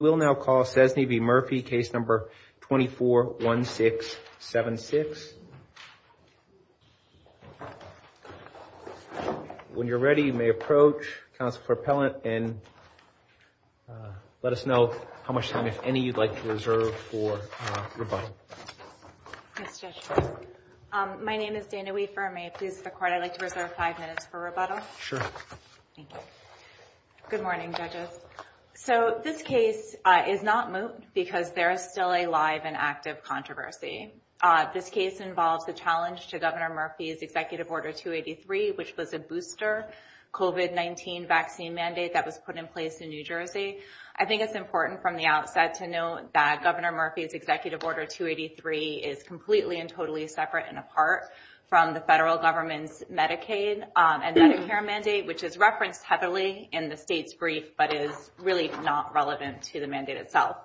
We'll now call Sczesny v. Murphy, case number 241676. When you're ready, you may approach counsel for appellant and let us know how much time, if any, you'd like to reserve for rebuttal. Yes, Judge. My name is Dana Weaver. May it please the court, I'd like to reserve five minutes for rebuttal. Sure. Thank you. Good morning, judges. So this case is not moot because there is still a live and active controversy. This case involves the challenge to Governor Murphy's executive order 283, which was a booster COVID-19 vaccine mandate that was put in place in New Jersey. I think it's important from the outset to note that Governor Murphy's executive order 283 is completely and totally separate and apart from the federal government's Medicaid and Medicare mandate, which is referenced heavily in the state's brief, but is really not relevant to the mandate itself.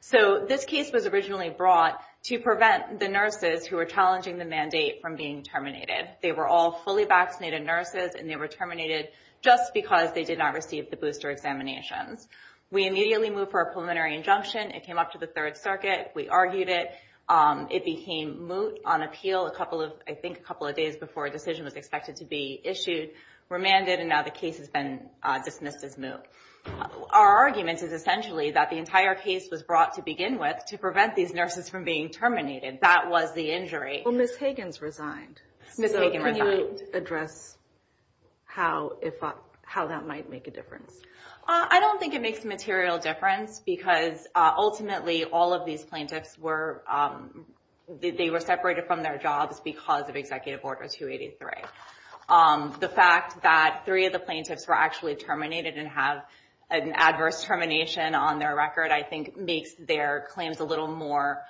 So this case was originally brought to prevent the nurses who are challenging the mandate from being terminated. They were all fully vaccinated nurses and they were terminated just because they did not receive the booster examinations. We immediately moved for a preliminary injunction. It came up to the Third Circuit. We argued it. It became moot on appeal a couple of, I think, a couple of days before a decision was expected to be issued. We remanded and now the case has been dismissed as moot. Our argument is essentially that the entire case was brought to begin with to prevent these nurses from being terminated. That was the injury. Well, Ms. Higgins resigned. Ms. Higgins resigned. So can you address how that might make a difference? I don't think it makes a material difference because ultimately all of these plaintiffs were, they were separated from their jobs because of executive order 283. The fact that three of the plaintiffs were actually terminated and have an adverse termination on their record, I think, makes their claims a little more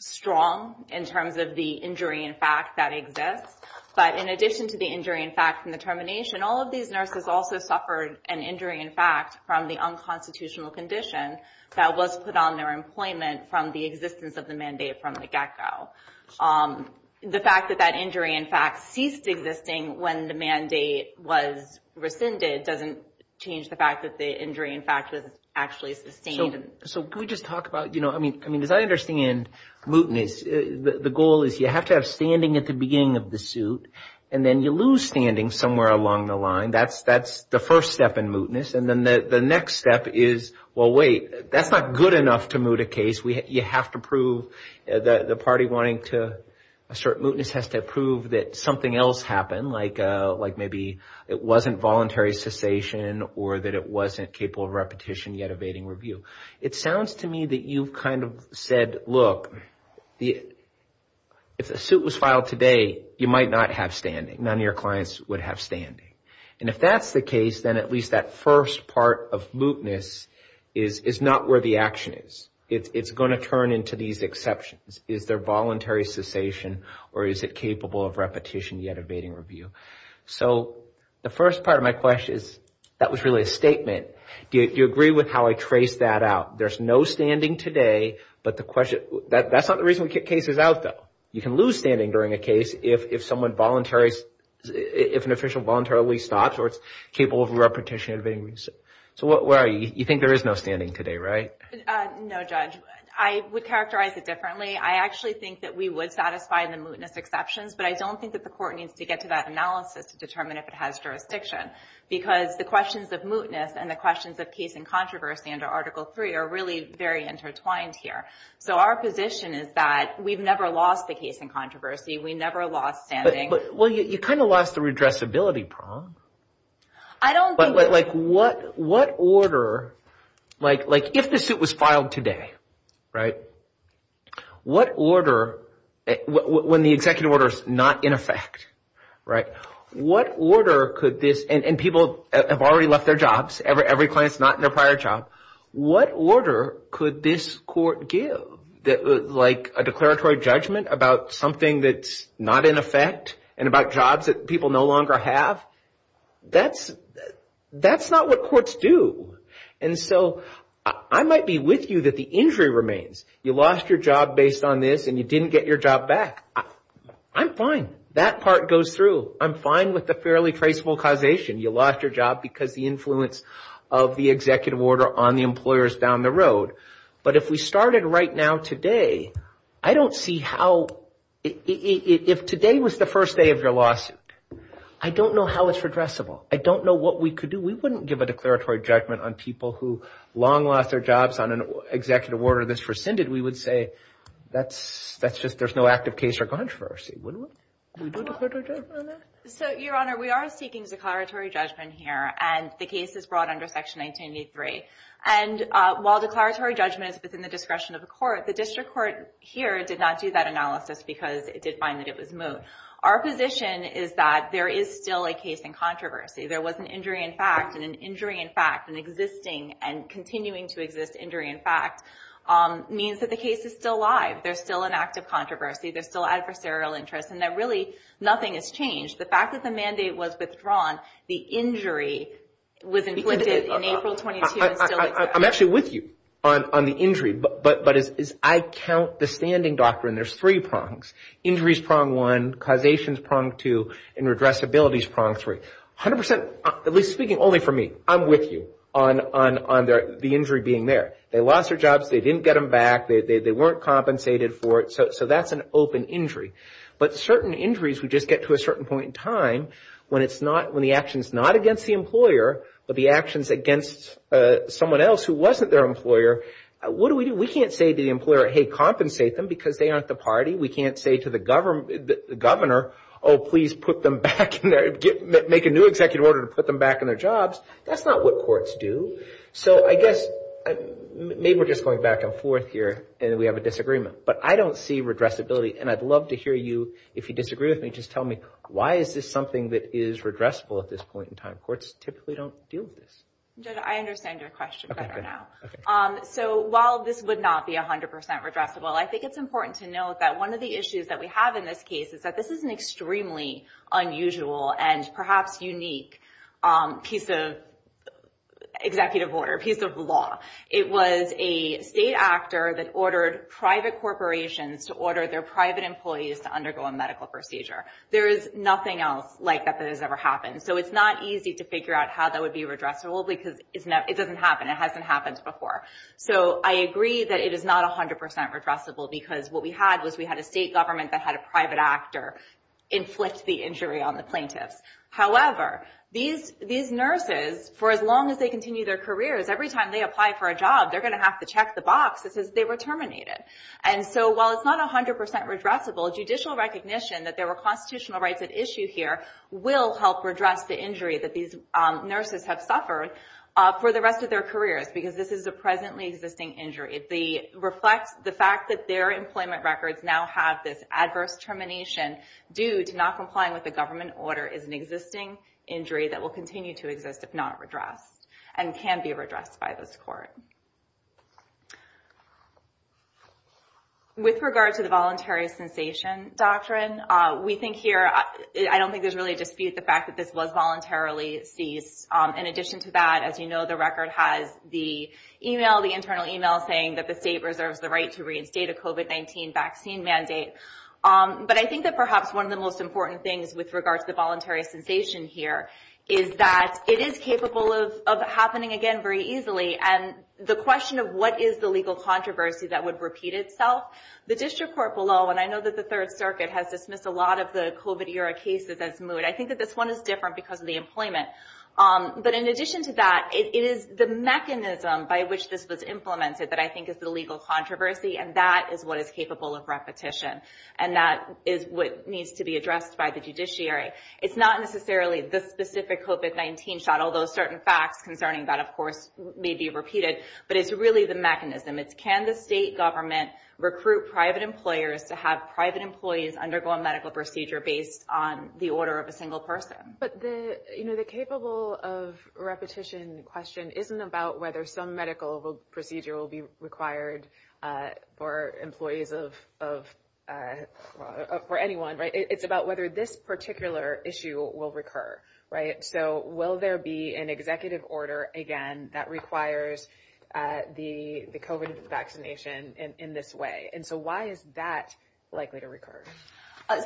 strong in terms of the injury in fact that exists. But in addition to the injury, in fact, from the termination, all of these nurses also suffered an injury, in fact, from the unconstitutional condition that was put on their employment from the existence of the mandate from the get-go. The fact that that injury, in fact, ceased existing when the mandate was rescinded doesn't change the fact that the injury, in fact, was actually sustained. So can we just talk about, you know, I mean, as I understand mootness, the goal is you have to have standing at the beginning of the suit and then you lose standing somewhere along the line. That's the first step in mootness. And then the next step is, well, wait, that's not good enough to moot a case. You have to prove the party wanting to assert mootness has to prove that something else happened, like maybe it wasn't voluntary cessation or that it wasn't capable of repetition yet evading review. It sounds to me that you've kind of said, look, if the suit was filed today, you might not have standing. None of your clients would have standing. And if that's the case, then at least that first part of mootness is not where the action is. It's going to turn into these exceptions. Is there voluntary cessation or is it capable of repetition yet evading review? So the first part of my question is, that was really a statement. Do you agree with how I traced that out? There's no standing today. But the question, that's not the reason the case is out, though. You can lose standing during a case if someone voluntarily, if an official voluntarily stops or is capable of repetition evading review. So where are you? You think there is no standing today, right? No, Judge. I would characterize it differently. I actually think that we would satisfy the mootness exceptions, but I don't think that the court needs to get to that analysis to determine if it has jurisdiction. Because the questions of mootness and the questions of case and controversy under Article 3 are really very intertwined here. So our position is that we've never lost the case in controversy. We never lost standing. Well, you kind of lost the redressability prong. I don't think that... What order, like if the suit was filed today, right? What order, when the executive order is not in effect, right? What order could this, and people have already left their jobs, every client's not in their prior job. What order could this court give, like a declaratory judgment about something that's not in effect and about jobs that people no longer have? That's not what courts do. And so I might be with you that the injury remains. You lost your job based on this and you didn't get your job back. I'm fine. That part goes through. I'm fine with the fairly traceable causation. You lost your job because the influence of the executive order on the employers down the road. But if we started right now today, I don't see how... If today was the first day of your lawsuit, I don't know how it's redressable. I don't know what we could do. We wouldn't give a declaratory judgment on people who long lost their jobs on an executive order that's rescinded. We would say that's just, there's no active case or controversy, wouldn't we? We do declaratory judgment on that? So, Your Honor, we are seeking declaratory judgment here, and the case is brought under Section 1983. And while declaratory judgment is within the discretion of the court, the district court here did not do that analysis because it did find that it was moot. Our position is that there is still a case in controversy. There was an injury in fact, and an injury in fact, and existing and continuing to exist injury in fact, means that the case is still alive. There's still an active controversy. There's still adversarial interest, and that really nothing has changed. The fact that the mandate was withdrawn, the injury was inflicted in April 22 and still exists. I'm actually with you on the injury, but as I count the standing doctrine, there's three prongs. Injury is prong one, causation is prong two, and redressability is prong three. A hundred percent, at least speaking only for me, I'm with you on the injury being there. They lost their jobs, they didn't get them back, they weren't compensated for it, so that's an open injury. But certain injuries would just get to a certain point in time when the action is not against the employer, but the action is against someone else who wasn't their employer. What do we do? We can't say to the employer, hey, compensate them because they aren't the party. We can't say to the governor, oh, please make a new executive order to put them back in their jobs. That's not what courts do. So I guess maybe we're just going back and forth here, and we have a disagreement. But I don't see redressability, and I'd love to hear you, if you disagree with me, just tell me why is this something that is redressable at this point in time? Courts typically don't deal with this. Judge, I understand your question better now. So while this would not be a hundred percent redressable, I think it's important to note that one of the issues that we have in this case is that this is an extremely unusual and perhaps unique piece of executive order, piece of law. It was a state actor that ordered private corporations to order their private employees to undergo a medical procedure. There is nothing else like that that has ever happened. So it's not easy to figure out how that would be redressable because it doesn't happen. It hasn't happened before. So I agree that it is not a hundred percent redressable because what we had was we had a state government that had a private actor inflict the injury on the plaintiffs. However, these nurses, for as long as they continue their careers, every time they apply for a job, they're going to have to check the box that says they were terminated. And so while it's not a hundred percent redressable, judicial recognition that there were constitutional rights at issue here will help redress the injury that these nurses have suffered for the rest of their careers because this is a presently existing injury. If they reflect the fact that their employment records now have this adverse termination due to not complying with the government order is an existing injury that will continue to exist if not redressed and can be redressed by this court. With regard to the voluntary sensation doctrine, we think here, I don't think there's really a dispute, the fact that this was voluntarily seized. In addition to that, as you know, the record has the email, the internal email saying that the state reserves the right to reinstate a COVID-19 vaccine mandate. But I think that perhaps one of the most important things with regard to the voluntary sensation here is that it is capable of happening again very easily. And the question of what is the legal controversy that would repeat itself, the district court below, and I know that the Third Circuit has dismissed a lot of the COVID-era cases as moot. I think that this one is different because of the employment. But in addition to that, it is the mechanism by which this was implemented that I think is the legal controversy. And that is what is capable of repetition. And that is what needs to be addressed by the judiciary. It's not necessarily the specific COVID-19 shot, although certain facts concerning that, of course, may be repeated. But it's really the mechanism. It's can the state government recruit private employers to have private employees undergo a medical procedure based on the order of a single person? But the, you know, the capable of repetition question isn't about whether some medical procedure will be required for employees of, for anyone, right? It's about whether this particular issue will recur, right? So will there be an executive order again that requires the COVID vaccination in this way? And so why is that likely to recur?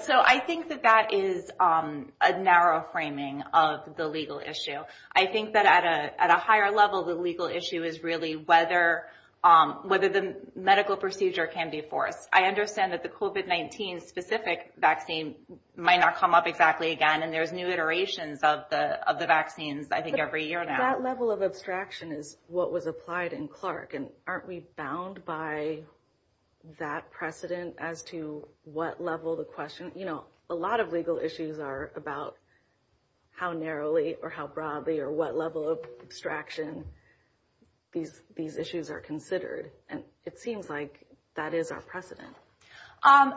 So I think that that is a narrow framing of the legal issue. I think that at a higher level, the legal issue is really whether the medical procedure can be forced. I understand that the COVID-19 specific vaccine might not come up exactly again. And there's new iterations of the of the vaccines, I think, every year now. That level of abstraction is what was applied in Clark. And aren't we bound by that precedent as to what level the question, you know, a lot of legal issues are about how narrowly or how broadly or what level of abstraction these these issues are considered. And it seems like that is our precedent.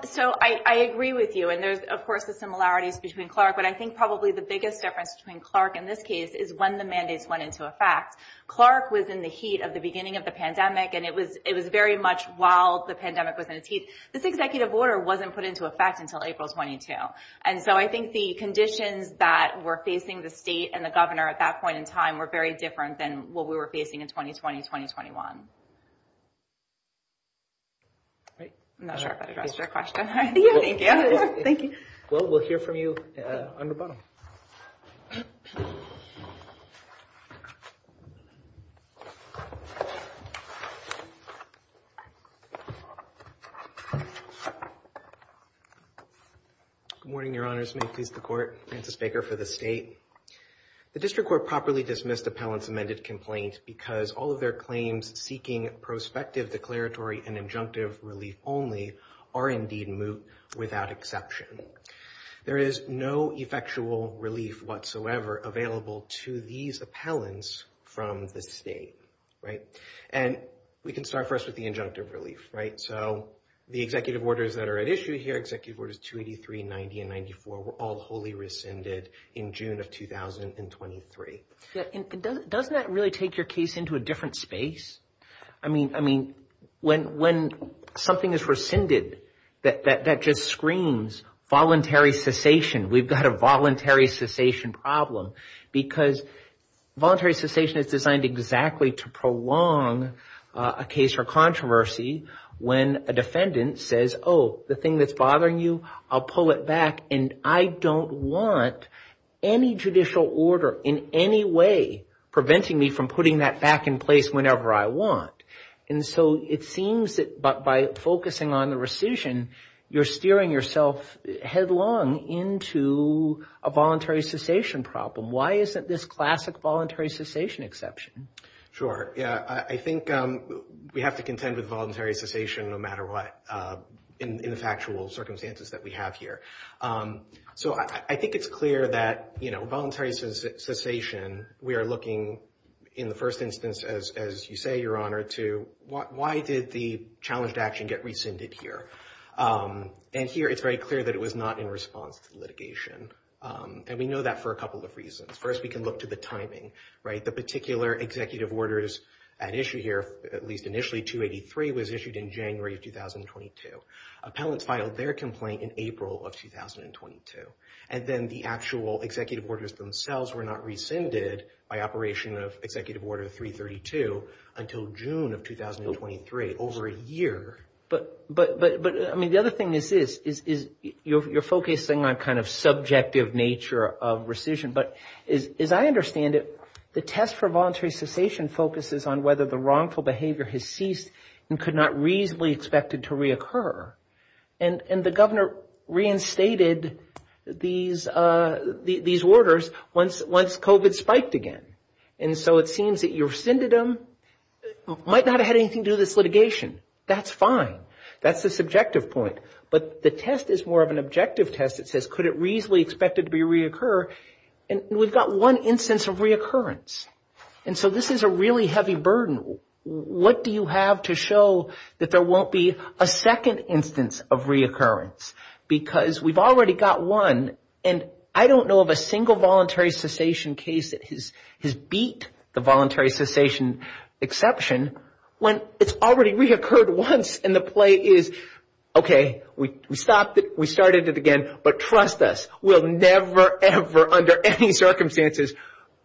So I agree with you. And there's, of course, the similarities between Clark. But I think probably the biggest difference between Clark in this case is when the mandates went into effect. Clark was in the heat of the beginning of the pandemic. And it was it was very much while the pandemic was in its heat. This executive order wasn't put into effect until April 22. And so I think the conditions that were facing the state and the governor at that point in time were very different than what we were facing in 2020, 2021. I'm not sure if I addressed your question. Thank you. Thank you. Well, we'll hear from you on the bottom. Good morning, Your Honors. May it please the court. Francis Baker for the state. The district court properly dismissed appellant's amended complaint because all of their claims seeking prospective declaratory and injunctive relief only are indeed moot without exception. There is no effectual relief whatsoever available to these appellants from the state. Right. And we can start first with the injunctive relief. Right. So the executive orders that are at issue here, executive orders 283, 90 and 94, were all wholly rescinded in June of 2020. And doesn't that really take your case into a different space? I mean, I mean, when when something is rescinded, that just screams voluntary cessation. We've got a voluntary cessation problem because voluntary cessation is designed exactly to prolong a case or controversy when a defendant says, oh, the thing that's bothering you, I'll pull it back. And I don't want any judicial order in any way preventing me from putting that back in place whenever I want. And so it seems that by focusing on the rescission, you're steering yourself headlong into a voluntary cessation problem. Why isn't this classic voluntary cessation exception? Sure. Yeah, I think we have to contend with voluntary cessation no matter what in the factual circumstances that we have here. So I think it's clear that, you know, voluntary cessation, we are looking in the first instance, as you say, Your Honor, to why did the challenged action get rescinded here? And here it's very clear that it was not in response to litigation. And we know that for a couple of reasons. First, we can look to the timing. Right. The particular executive orders at issue here, at least initially 283, was issued in January of 2022. Appellants filed their complaint in April of 2022. And then the actual executive orders themselves were not rescinded by operation of Executive Order 332 until June of 2023, over a year. But I mean, the other thing is this, is you're focusing on kind of subjective nature of rescission. But as I understand it, the test for voluntary cessation focuses on whether the wrongful behavior has ceased and could not reasonably expected to reoccur. And the governor reinstated these orders once COVID spiked again. And so it seems that rescinded them might not have had anything to do with this litigation. That's fine. That's the subjective point. But the test is more of an objective test. It says, could it reasonably expected to reoccur? And we've got one instance of reoccurrence. And so this is a really heavy burden. What do you have to show that there won't be a second instance of reoccurrence? Because we've already got one. And I don't know of a single voluntary cessation case that has beat the voluntary cessation exception when it's already reoccurred once. And the play is, OK, we stopped it. We started it again. But trust us, we'll never, ever, under any circumstances,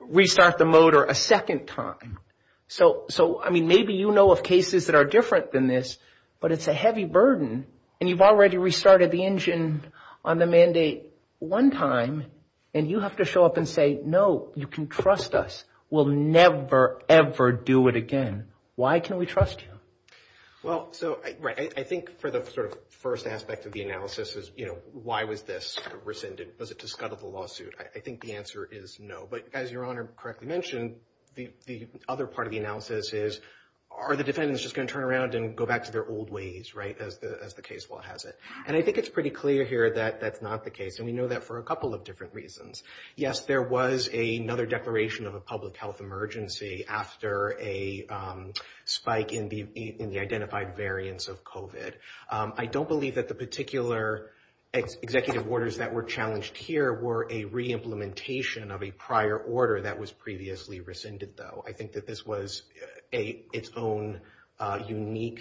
restart the motor a second time. So, I mean, maybe you know of cases that are different than this, but it's a heavy burden. And you've already restarted the engine on the mandate one time. And you have to show up and say, no, you can trust us. We'll never, ever do it again. Why can we trust you? Well, so I think for the sort of first aspect of the analysis is, you know, why was this rescinded? Was it to scuttle the lawsuit? I think the answer is no. But as Your Honor correctly mentioned, the other part of the analysis is, are the defendants just going to turn around and go back to their old ways, right? As the case law has it. And I think it's pretty clear here that that's not the case. And we know that for a couple of different reasons. Yes, there was another declaration of a public health emergency after a spike in the identified variants of COVID. I don't believe that the particular executive orders that were challenged here were a re-implementation of a prior order that was previously rescinded, though. I think that this was its own unique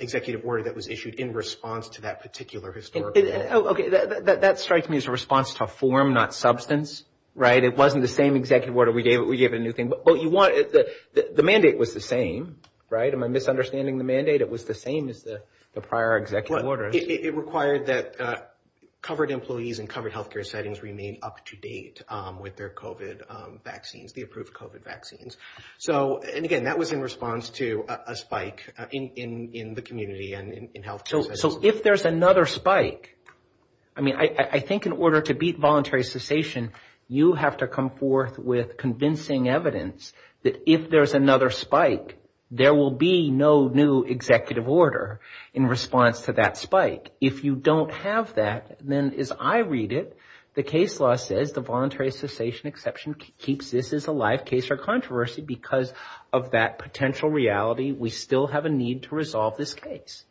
executive order that was issued in response to that particular historical event. OK, that strikes me as a response to form, not substance, right? It wasn't the same executive order we gave it. We gave it a new thing. But you want the mandate was the same, right? Am I misunderstanding the mandate? It was the same as the prior executive order. It required that covered employees in covered health care settings remain up to date with their COVID vaccines, the approved COVID vaccines. So and again, that was in response to a spike in the community and in health care. So if there's another spike, I mean, I think in order to beat voluntary cessation, you have to come forth with convincing evidence that if there's another spike, there will be no new executive order in response to that spike. If you don't have that, then as I read it, the case law says the voluntary cessation exception keeps this as a live case for controversy because of that potential reality. We still have a need to resolve this case.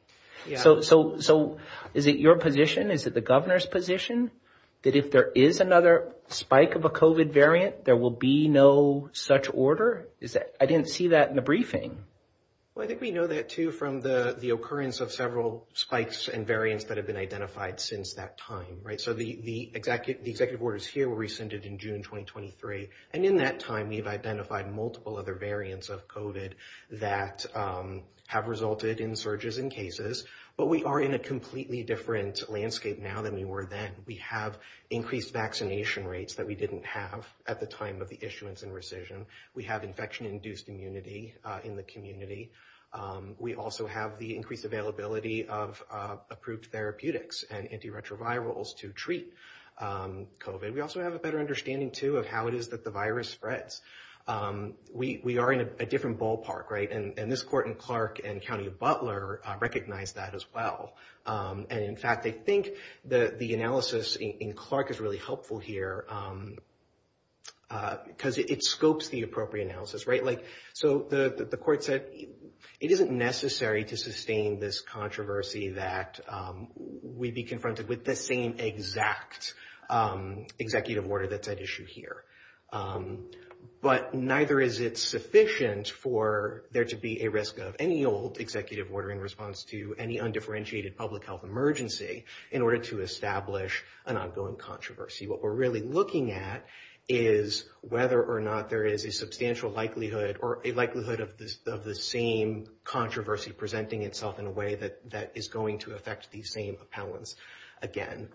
So so so is it your position? Is it the governor's position that if there is another spike of a COVID variant, there will be no such order? Is that I didn't see that in the briefing. Well, I think we know that, too, from the occurrence of several spikes and variants that have been identified since that time. Right. So the the executive executive orders here were rescinded in June twenty twenty three. And in that time, we've identified multiple other variants of COVID that have resulted in surges in cases. But we are in a completely different landscape now than we were then. We have increased vaccination rates that we didn't have at the time of the issuance and rescission. We have infection induced immunity in the community. We also have the increased availability of approved therapeutics and antiretrovirals to treat COVID. We also have a better understanding, too, of how it is that the virus spreads. We are in a different ballpark. Right. And this court in Clark and County of Butler recognize that as well. And in fact, they think that the analysis in Clark is really helpful here because it scopes the appropriate analysis. Right. Like so the court said it isn't necessary to sustain this controversy that we'd be confronted with the same exact executive order that's at issue here. But neither is it sufficient for there to be a risk of any old executive order in response to any undifferentiated public health emergency in order to establish an ongoing controversy. What we're really looking at is whether or not there is a substantial likelihood or a likelihood of this of the same controversy presenting itself in a way that that is going to affect these same appellants again.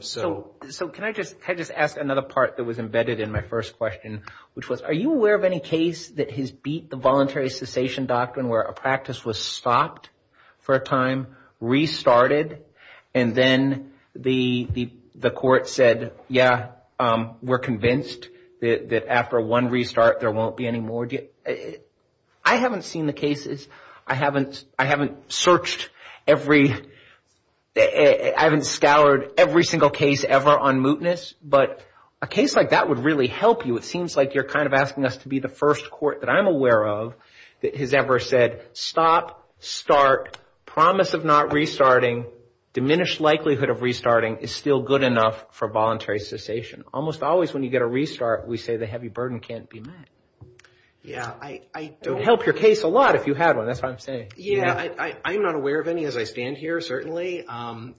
So so can I just I just ask another part that was embedded in my first question, which was, are you aware of any case that has beat the voluntary cessation doctrine where a practice was stopped for a time, restarted? And then the the the court said, yeah, we're convinced that after one restart, there won't be any more. I haven't seen the cases. I haven't I haven't searched every I haven't scoured every single case ever on mootness. But a case like that would really help you. It seems like you're kind of asking us to be the first court that I'm aware of that has ever said stop, start, promise of not restarting, diminished likelihood of restarting is still good enough for voluntary cessation. Almost always when you get a restart, we say the heavy burden can't be met. Yeah, I don't help your case a lot if you had one. That's what I'm saying. Yeah, I'm not aware of any as I stand here, certainly. And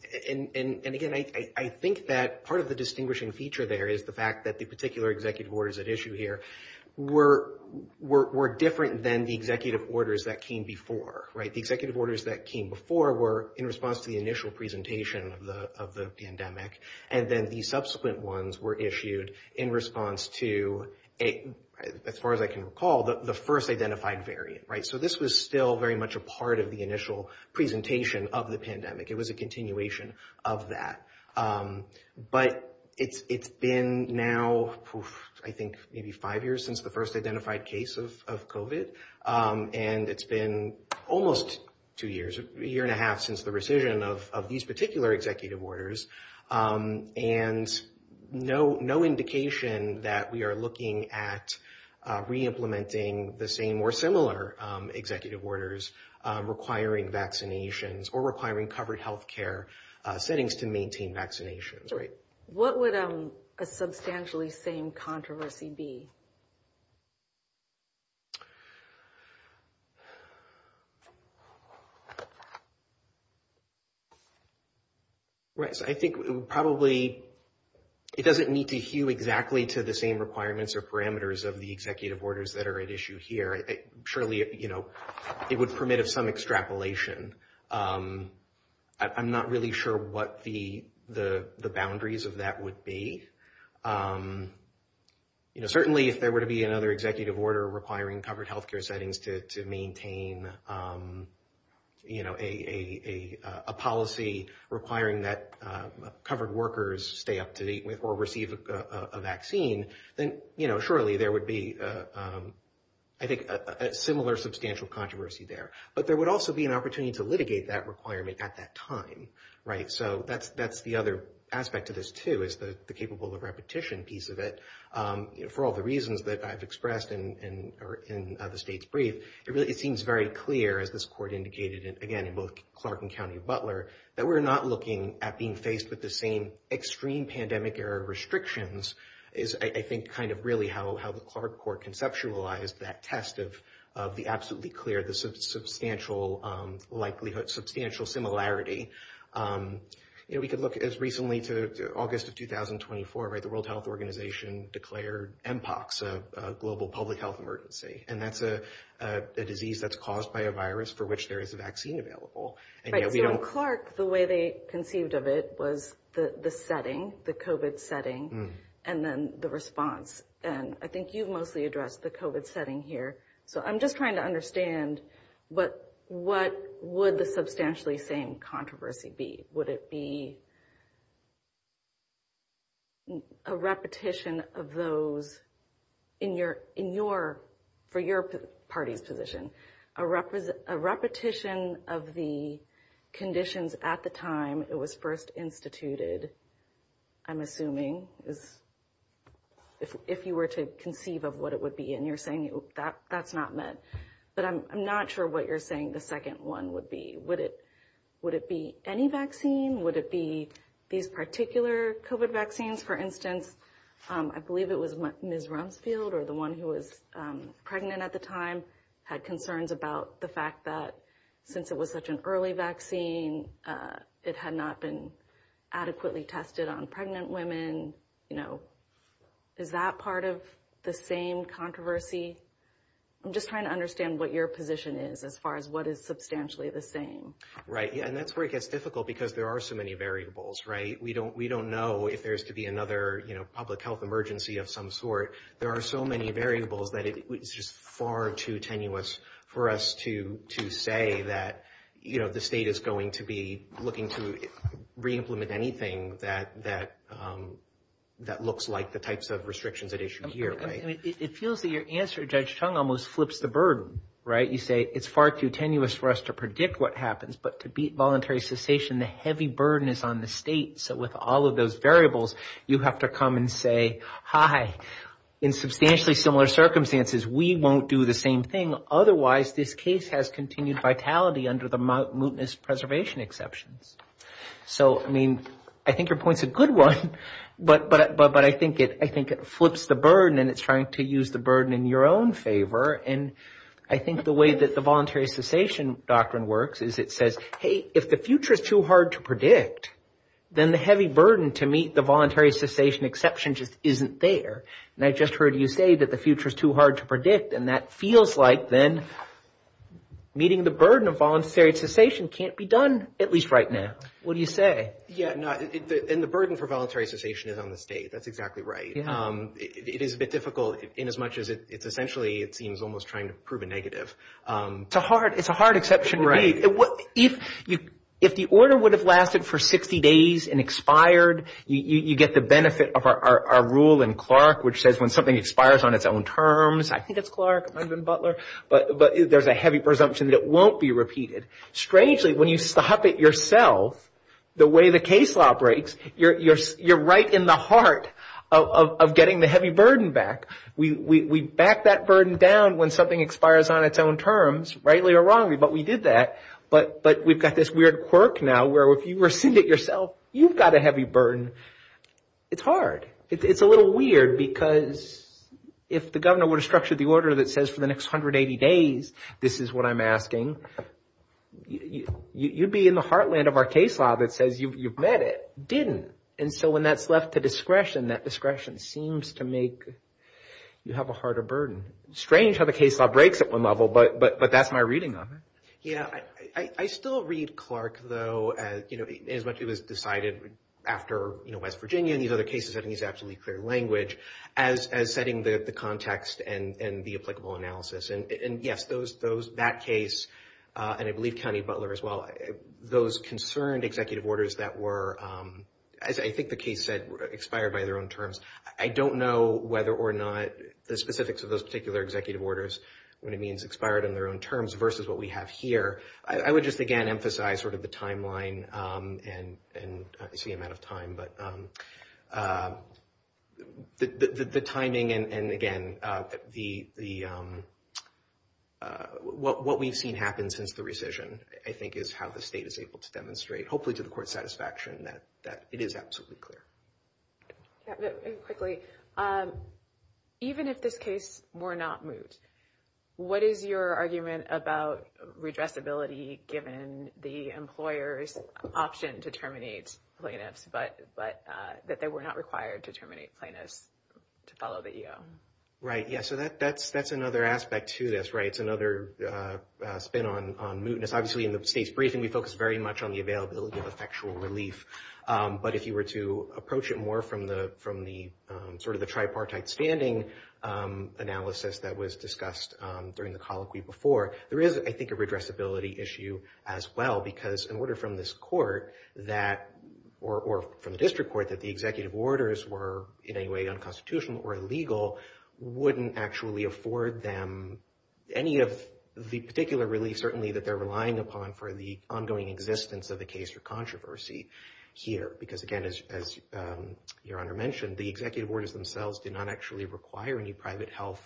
again, I think that part of the distinguishing feature there is the fact that the particular executive orders at issue here were were different than the executive orders that came before. Right. The executive orders that came before were in response to the initial presentation of the of the pandemic. And then the subsequent ones were issued in response to a as far as I can recall, the first identified variant. Right. So this was still very much a part of the initial presentation of the pandemic. It was a continuation of that. But it's it's been now, I think, maybe five years since the first identified case of covid. And it's been almost two years, a year and a half since the rescission of these particular executive orders. And no, no indication that we are looking at re-implementing the same or similar executive orders requiring vaccinations or requiring covered health care settings to maintain vaccinations. What would a substantially same controversy be? Right. So I think probably it doesn't need to hew exactly to the same requirements or parameters of the executive orders that are at issue here. Surely, you know, it would permit of some extrapolation. I'm not really sure what the the the boundaries of that would be. You know, certainly if there were to be another executive order requiring covered health care settings to to maintain, you know, a policy requiring that covered workers stay up to date with or receive a vaccine, then, you know, surely there would be, I think, a similar substantial controversy there. But there would also be an opportunity to litigate that requirement at that time. Right. So that's that's the other aspect of this, too, is the capable of repetition piece of it. For all the reasons that I've expressed in the state's brief, it seems very clear, as this court indicated again in both Clark and County Butler, that we're not looking at being faced with the same extreme pandemic restrictions is, I think, kind of really how the Clark court conceptualized that test of the absolutely clear, the substantial likelihood, substantial similarity. You know, we could look as recently to August of twenty twenty four, right. The World Health Organization declared impacts of global public health emergency. And that's a disease that's caused by a virus for which there is a vaccine available. And Clark, the way they conceived of it was the setting, the covid setting and then the response. And I think you've mostly addressed the covid setting here. So I'm just trying to understand, but what would the substantially same controversy be? Would it be. A repetition of those in your in your for your party's position, a represent a repetition of the conditions at the time it was first instituted, I'm assuming is if you were to conceive of what it would be. And you're saying that that's not meant. But I'm not sure what you're saying. The second one would be, would it would it be any vaccine? Would it be these particular covid vaccines, for instance? I believe it was Ms. Rumsfeld or the one who was pregnant at the time had concerns about the fact that since it was such an early vaccine, it had not been adequately tested on pregnant women. And, you know, is that part of the same controversy? I'm just trying to understand what your position is as far as what is substantially the same. Right. And that's where it gets difficult because there are so many variables. Right. We don't we don't know if there's to be another public health emergency of some sort. There are so many variables that it's just far too tenuous for us to to say that, you know, the state is going to be looking to reimplement anything that that that looks like the types of restrictions at issue here. It feels that your answer, Judge Chung, almost flips the burden, right? You say it's far too tenuous for us to predict what happens. But to beat voluntary cessation, the heavy burden is on the state. So with all of those variables, you have to come and say, hi, in substantially similar circumstances, we won't do the same thing. Otherwise, this case has continued vitality under the mootness preservation exceptions. So, I mean, I think your point's a good one, but but but I think it I think it flips the burden and it's trying to use the burden in your own favor. And I think the way that the voluntary cessation doctrine works is it says, hey, if the future is too hard to predict, then the heavy burden to meet the voluntary cessation exception just isn't there. And I just heard you say that the future is too hard to predict. And that feels like then meeting the burden of voluntary cessation can't be done, at least right now. What do you say? Yeah. And the burden for voluntary cessation is on the state. That's exactly right. It is a bit difficult in as much as it's essentially it seems almost trying to prove a negative. It's a hard it's a hard exception. Right. If you if the order would have lasted for 60 days and expired, you get the benefit of our rule in Clark, which says when something expires on its own terms. I think it's Clark Butler. But but there's a heavy presumption that it won't be repeated. Strangely, when you stop it yourself, the way the case law breaks, you're you're you're right in the heart of getting the heavy burden back. We back that burden down when something expires on its own terms, rightly or wrongly. But we did that. But but we've got this weird quirk now where if you rescind it yourself, you've got a heavy burden. It's hard. It's a little weird because if the governor were to structure the order that says for the next 180 days, this is what I'm asking. You'd be in the heartland of our case law that says you've met it didn't. And so when that's left to discretion, that discretion seems to make you have a harder burden. Strange how the case law breaks at one level. But but but that's my reading of it. Yeah, I still read Clark, though, as much as it was decided after West Virginia and these other cases. I think he's absolutely clear language as as setting the context and the applicable analysis. And yes, those those that case, and I believe County Butler as well, those concerned executive orders that were, as I think the case said, expired by their own terms. I don't know whether or not the specifics of those particular executive orders, what it means expired on their own terms versus what we have here. I would just, again, emphasize sort of the timeline and the amount of time. But the timing and again, the the what we've seen happen since the rescission, I think, is how the state is able to demonstrate, hopefully to the court's satisfaction that that it is absolutely clear. Quickly, even if this case were not moved, what is your argument about redressability given the employer's option to terminate plaintiffs? But but that they were not required to terminate plaintiffs to follow the EO? Right. Yeah. So that that's that's another aspect to this. Right. It's another spin on on mootness. Obviously, in the state's briefing, we focus very much on the availability of effectual relief. But if you were to approach it more from the from the sort of the tripartite standing analysis that was discussed during the colloquy before, there is, I think, a redressability issue as well. Because in order from this court that or from the district court that the executive orders were in any way unconstitutional or illegal, wouldn't actually afford them any of the particular relief, certainly that they're relying upon for the ongoing existence of the case or controversy here. Because, again, as your honor mentioned, the executive orders themselves did not actually require any private health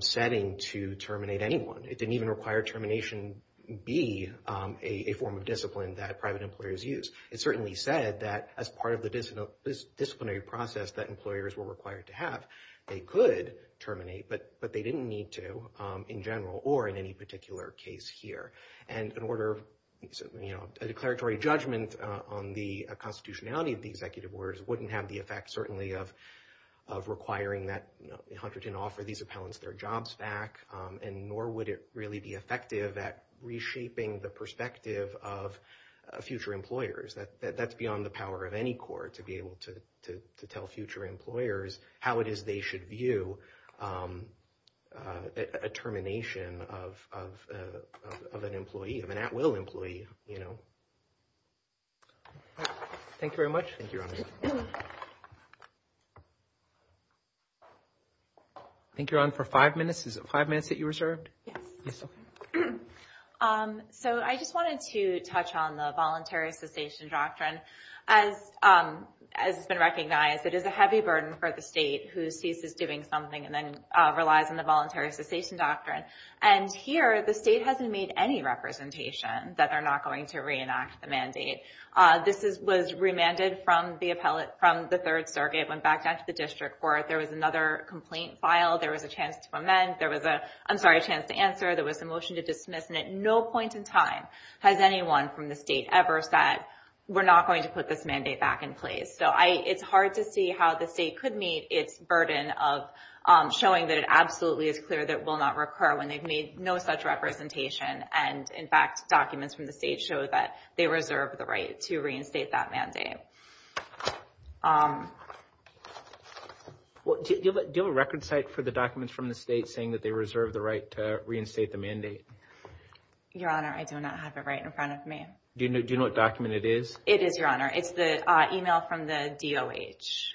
setting to terminate anyone. It didn't even require termination be a form of discipline that private employers use. It certainly said that as part of the disciplinary process that employers were required to have, they could terminate. But but they didn't need to in general or in any particular case here. And in order, you know, a declaratory judgment on the constitutionality of the executive orders wouldn't have the effect, certainly, of of requiring that Hunterton offer these appellants their jobs back. And nor would it really be effective at reshaping the perspective of future employers that that's beyond the power of any court to be able to tell future employers how it is they should view a termination of of of an employee of an at will employee, you know. Thank you very much. Thank you. I think you're on for five minutes, five minutes that you reserved. Yes. So I just wanted to touch on the voluntary cessation doctrine as has been recognized. It is a heavy burden for the state who sees this doing something and then relies on the voluntary cessation doctrine. And here the state hasn't made any representation that they're not going to reenact the mandate. This is was remanded from the appellate from the Third Circuit went back to the district court. There was another complaint filed. There was a chance to amend. There was a I'm sorry, a chance to answer. There was a motion to dismiss. And at no point in time has anyone from the state ever said we're not going to put this mandate back in place. So it's hard to see how the state could meet its burden of showing that it absolutely is clear that will not recur when they've made no such representation. And in fact, documents from the state show that they reserve the right to reinstate that mandate. What do you have a record site for the documents from the state saying that they reserve the right to reinstate the mandate? Your Honor, I do not have it right in front of me. Do you know what document it is? It is, Your Honor. It's the email from the DOH.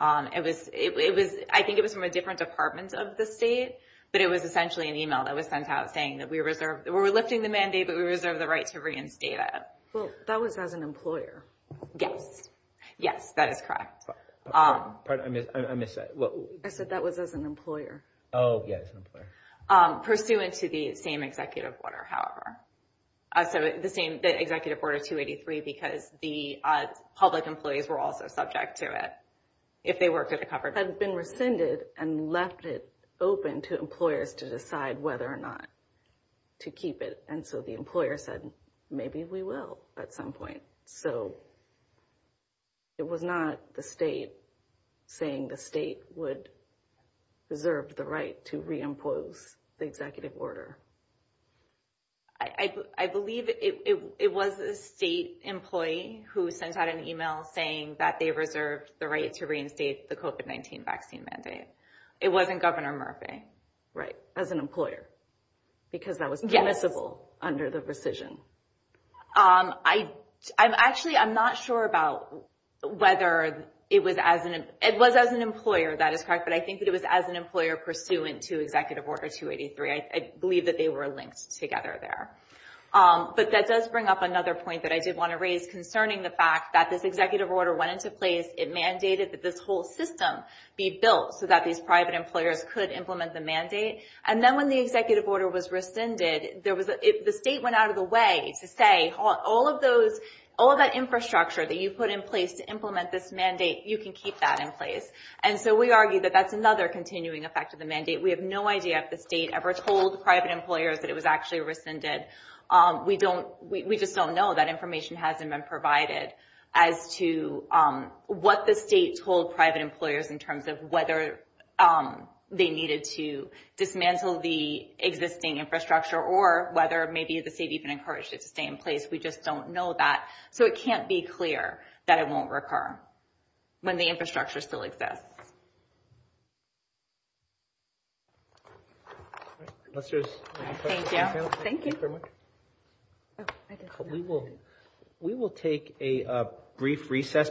It was it was I think it was from a different department of the state. But it was essentially an email that was sent out saying that we reserve we're lifting the mandate, but we reserve the right to reinstate it. Well, that was as an employer. Yes. Yes, that is correct. Pardon me. I miss that. I said that was as an employer. Oh, yes. Pursuant to the same executive order, however. So the same executive order 283, because the public employees were also subject to it. If they were covered, had been rescinded and left it open to employers to decide whether or not to keep it. And so the employer said, maybe we will at some point. So it was not the state saying the state would reserve the right to reimpose the executive order. I believe it was a state employee who sent out an email saying that they reserved the right to reinstate the COVID-19 vaccine mandate. It wasn't Governor Murphy. Right. As an employer, because that was permissible under the rescission. I actually I'm not sure about whether it was as an it was as an employer. That is correct. But I think that it was as an employer pursuant to executive order 283. I believe that they were linked together there. But that does bring up another point that I did want to raise concerning the fact that this executive order went into place. It mandated that this whole system be built so that these private employers could implement the mandate. And then when the executive order was rescinded, there was the state went out of the way to say all of those all that infrastructure that you put in place to implement this mandate. You can keep that in place. And so we argue that that's another continuing effect of the mandate. We have no idea if the state ever told private employers that it was actually rescinded. We don't we just don't know that information hasn't been provided as to what the state told private employers in terms of whether they needed to dismantle the existing infrastructure or whether maybe the state even encouraged it to stay in place. We just don't know that. So it can't be clear that it won't recur when the infrastructure still exists. Thank you. Thank you very much. We will we will take a brief recess.